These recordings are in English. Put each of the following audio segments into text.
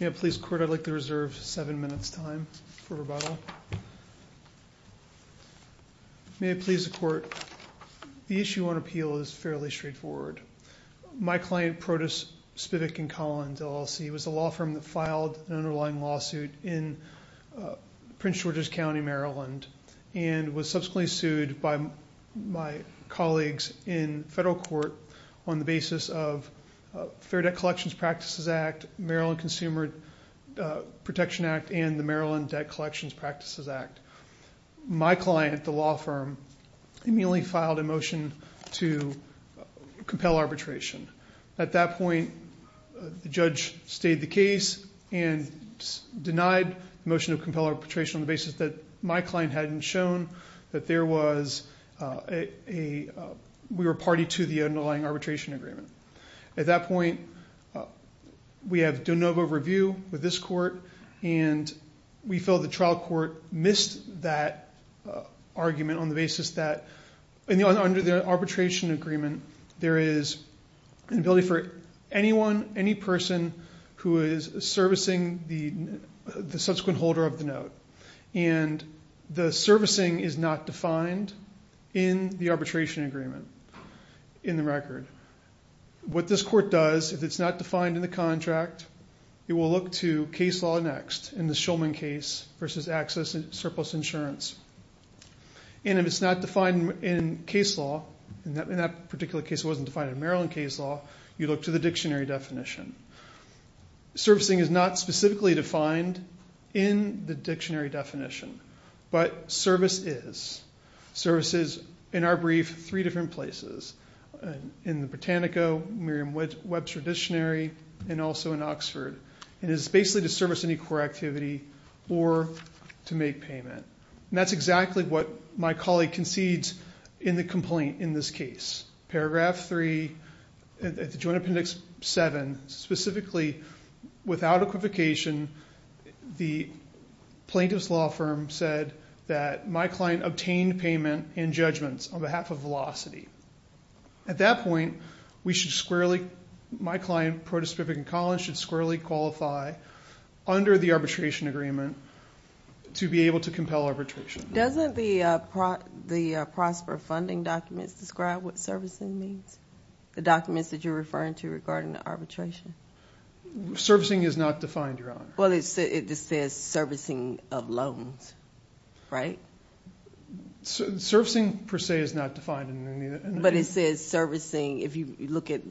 May it please the Court, I'd like to reserve seven minutes time for rebuttal. May it please the Court, the issue on appeal is fairly straightforward. My client, Protas, Spivok & Collins LLC, was a law firm that filed an underlying lawsuit in Prince George's County, Maryland and was subsequently sued by my colleagues in federal court on the basis of Fair Debt Collections Practices Act, Maryland Consumer Protection Act, and the Maryland Debt Collections Practices Act. My client, the law firm, immediately filed a motion to compel arbitration. At that point, the judge stayed the case and denied the motion to compel arbitration on the basis that my client hadn't shown that we were party to the underlying arbitration agreement. At that point, we have de novo review with this court and we feel the trial court missed that argument on the basis that under the arbitration agreement, there is an ability for anyone, any person who is servicing the subsequent holder of the note, and the servicing is not defined in the arbitration agreement in the record. What this court does, if it's not defined in the contract, it will look to case law next in the Shulman case versus access and surplus insurance, and if it's not defined in case law, in that particular case it wasn't defined in Maryland case law, you look to the dictionary definition. Servicing is not specifically defined in the dictionary definition, but service is. Service is, in our brief, three different places, in the Britannica, Merriam-Webb Traditionary, and also in Oxford. It is basically to service any core activity or to make payment. That's exactly what my colleague concedes in the complaint in this case. Paragraph 3, Joint Appendix 7, specifically, without equivocation, the plaintiff's law firm said that my client obtained payment and judgments on behalf of Velocity. At that point, we should squarely, my client should squarely qualify under the arbitration agreement to be able to compel arbitration. Doesn't the Prosper Funding documents describe what servicing means? The documents that you're referring to regarding the arbitration? Servicing is not defined, Your Honor. Well, it says servicing of loans, right? Servicing per se is not defined in any of the documents. But it says servicing, if you look at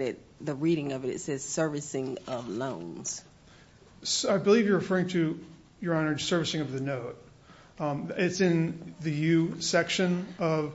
it, the reading of it, it says servicing of loans. I believe you're referring to, Your Honor, servicing of the note. It's in the U section of,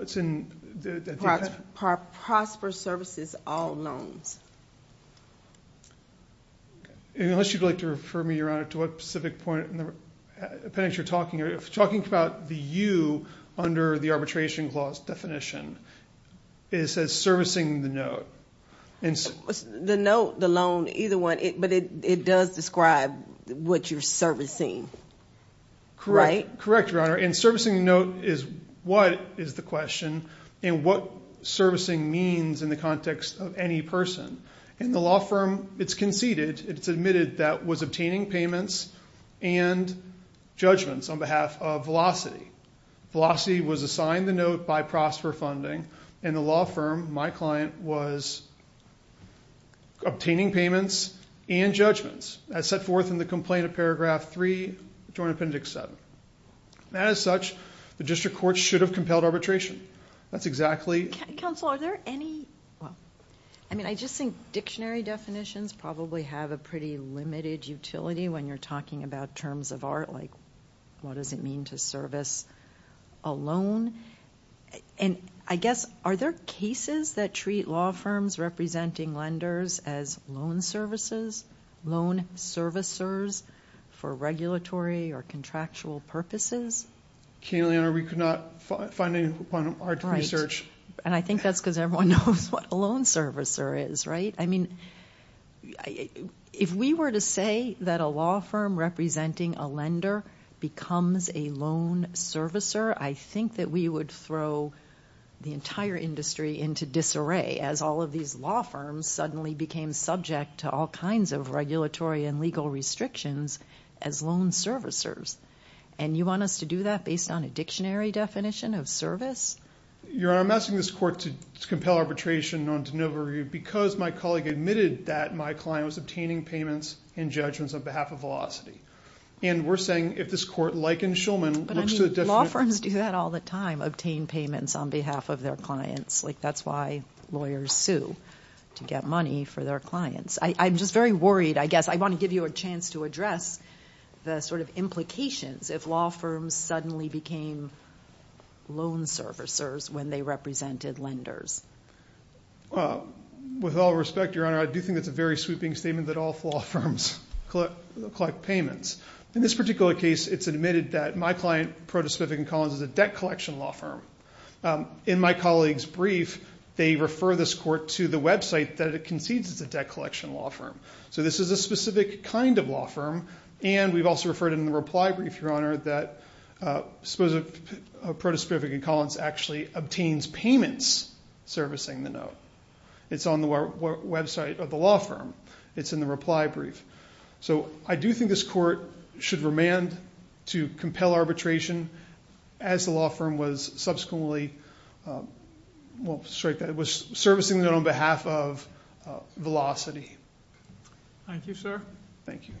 it's in the- Prosper Services All Loans. Unless you'd like to refer me, Your Honor, to what specific point in the appendix you're talking about. If you're talking about the U under the arbitration clause definition, it says servicing the note. The note, the loan, either one, but it does describe what you're servicing, correct? Correct, Your Honor. And servicing the note is what is the question and what servicing means in the context of any person. In the law firm, it's conceded, it's admitted that was obtaining payments and judgments on behalf of Velocity. Velocity was assigned the note by Prosper Funding and the law firm, my client, was obtaining payments and judgments as set forth in the complaint of paragraph three, joint appendix seven. And as such, the district court should have compelled arbitration. That's exactly- Counsel, are there any, well, I mean, I just think dictionary definitions probably have a pretty limited utility when you're talking about terms of art, like what does it mean to service a loan? And I guess, are there cases that treat law firms representing lenders as loan services, loan servicers for regulatory or contractual purposes? Can you, Your Honor, we could not find any upon our research. And I think that's because everyone knows what a loan servicer is, right? I mean, if we were to say that a law firm representing a lender becomes a loan servicer, I think that we would throw the entire industry into disarray as all of these law firms suddenly became subject to all kinds of regulatory and legal restrictions as loan servicers. And you want us to do that based on a dictionary definition of service? Your Honor, I'm asking this court to compel arbitration on de novo review because my colleague admitted that my client was obtaining payments and judgments on behalf of Velocity. And we're saying if this court, like in Shulman, looks to the definition- But I mean, law firms do that all the time, obtain payments on behalf of their clients. Like, that's why lawyers sue to get money for their clients. I'm just very worried, I guess, I want to give you a chance to address the sort of implications if law firms suddenly became loan servicers when they represented lenders. With all respect, Your Honor, I do think that's a very sweeping statement that all law firms collect payments. In this particular case, it's admitted that my client, Proto-Smith & Collins, is a debt collection law firm. In my colleague's brief, they refer this court to the website that it concedes it's a debt collection law firm. So this is a specific kind of law firm. And we've also referred in the reply brief, Your Honor, that Proto-Smith & Collins actually obtains payments servicing the note. It's on the website of the law firm. It's in the reply brief. So I do think this court should remand to compel arbitration as the law firm was subsequently servicing the note on behalf of Velocity. Thank you, sir. Thank you.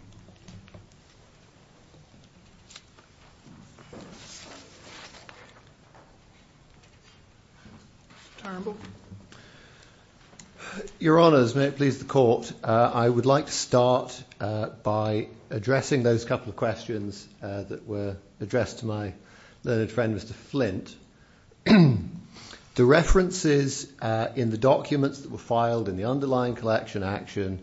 Your Honor, as may it please the court, I would like to start by addressing those couple of questions that were addressed to my learned friend, Mr. Flint. The references in the documents that were filed in the underlying collection action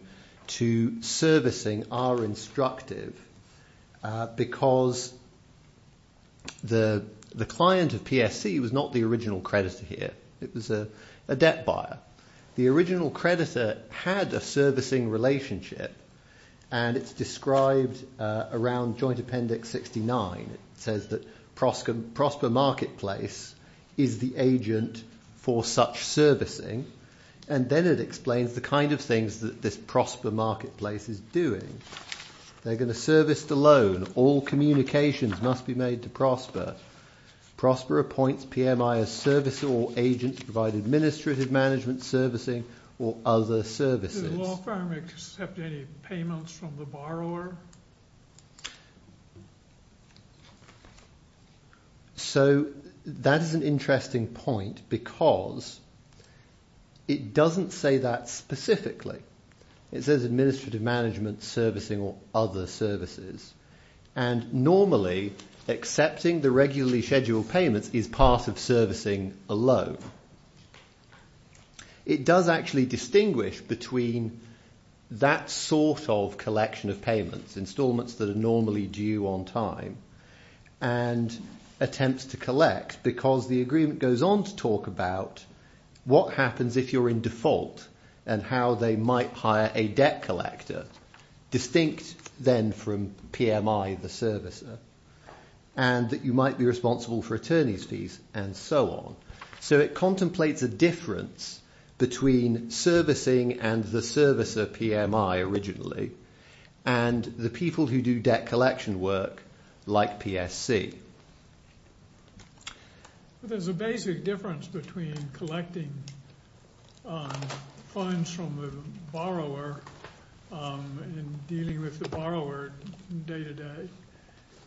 to servicing are instructive because the client of PSC was not the original creditor here. It was a debt buyer. The original creditor had a servicing relationship, and it's described around Joint Appendix 69. It says that Prosper Marketplace is the agent for such servicing. And then it explains the kind of things that this Prosper Marketplace is doing. They're going to service the loan. All communications must be made to Prosper. Prosper appoints PMI as servicer or agent to provide administrative management servicing or other services. Does the law firm accept any payments from the borrower? So, that is an interesting point because it doesn't say that specifically. It says administrative management servicing or other services. And normally, accepting the regularly scheduled payments is part of servicing a loan. It does actually distinguish between that sort of collection of payments, installments that are normally due on time, and attempts to collect because the agreement goes on to talk about what happens if you're in default and how they might hire a debt collector, distinct then from PMI, the servicer, and that you might be responsible for attorney's fees and so on. So, it contemplates a difference between servicing and the servicer, PMI, originally, and the people who do debt collection work, like PSC. There's a basic difference between collecting funds from the borrower and dealing with the borrower day-to-day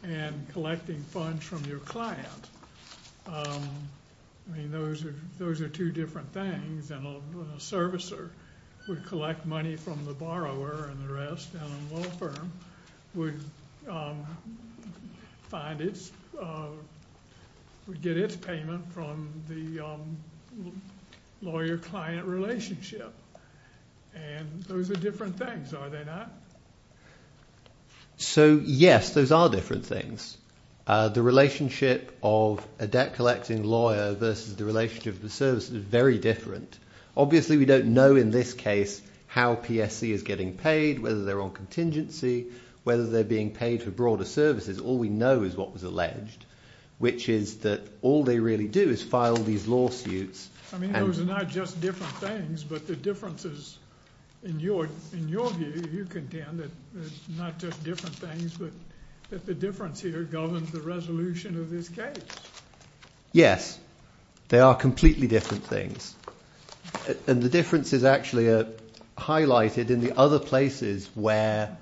and collecting funds from your client. I mean, those are two different things. A servicer would collect money from the borrower and the rest, would get its payment from the lawyer-client relationship. And those are different things, are they not? So, yes, those are different things. The relationship of a debt-collecting lawyer versus the relationship of the servicer is very different. Obviously, we don't know in this case how PSC is getting paid, whether they're on contingency, whether they're being paid for broader services. All we know is what was alleged, which is that all they really do is file these lawsuits. I mean, those are not just different things, but the difference is, in your view, you contend that it's not just different things, but that the difference here governs the resolution of this case. Yes, they are completely different things. And the difference is actually highlighted in the other places where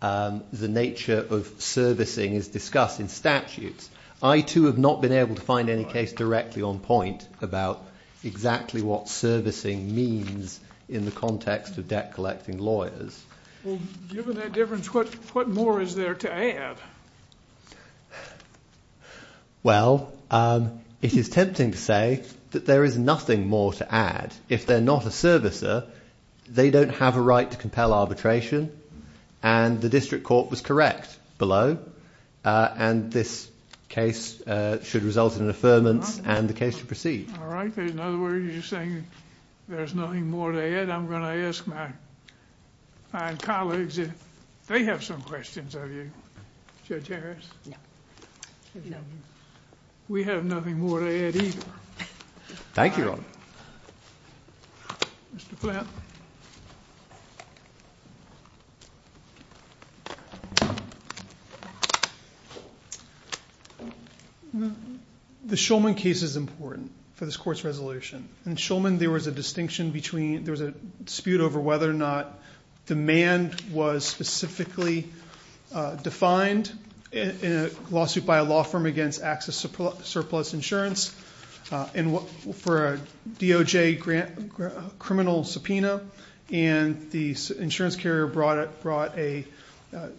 the nature of servicing is discussed in statutes. I, too, have not been able to find any case directly on point about exactly what servicing means in the context of debt-collecting lawyers. Well, given that difference, what more is there to add? Well, it is tempting to say that there is nothing more to add. If they're not a servicer, they don't have a right to compel arbitration. And the district court was correct below. And this case should result in an affirmance, and the case should proceed. All right. In other words, you're saying there's nothing more to add. I'm going to ask my colleagues if they have some questions of you. Judge Harris? No. We have nothing more to add either. Thank you, Your Honor. Mr. Flint? The Schulman case is important for this court's resolution. In Schulman, there was a dispute over whether or not demand was specifically defined in a lawsuit by a law firm against Axis Surplus Insurance for a DOJ criminal subpoena. And the insurance carrier brought a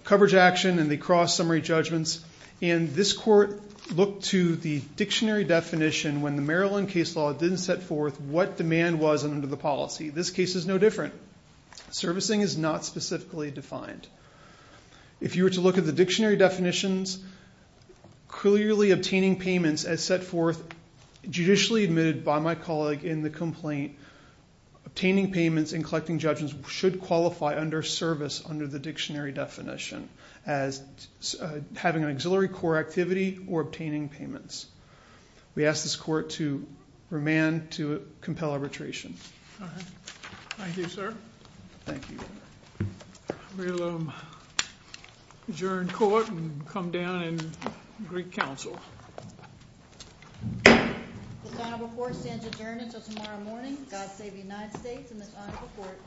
coverage action, and they crossed summary judgments. And this court looked to the dictionary definition when the Maryland case law didn't set forth what demand was under the policy. This case is no different. Servicing is not specifically defined. If you were to look at the dictionary definitions, clearly obtaining payments as set forth, or obtaining payments. We ask this court to remand to compel arbitration. All right. Thank you, sir. Thank you. We'll adjourn court and come down and greet counsel. This honorable court stands adjourned until tomorrow morning. God save the United States and this honorable court.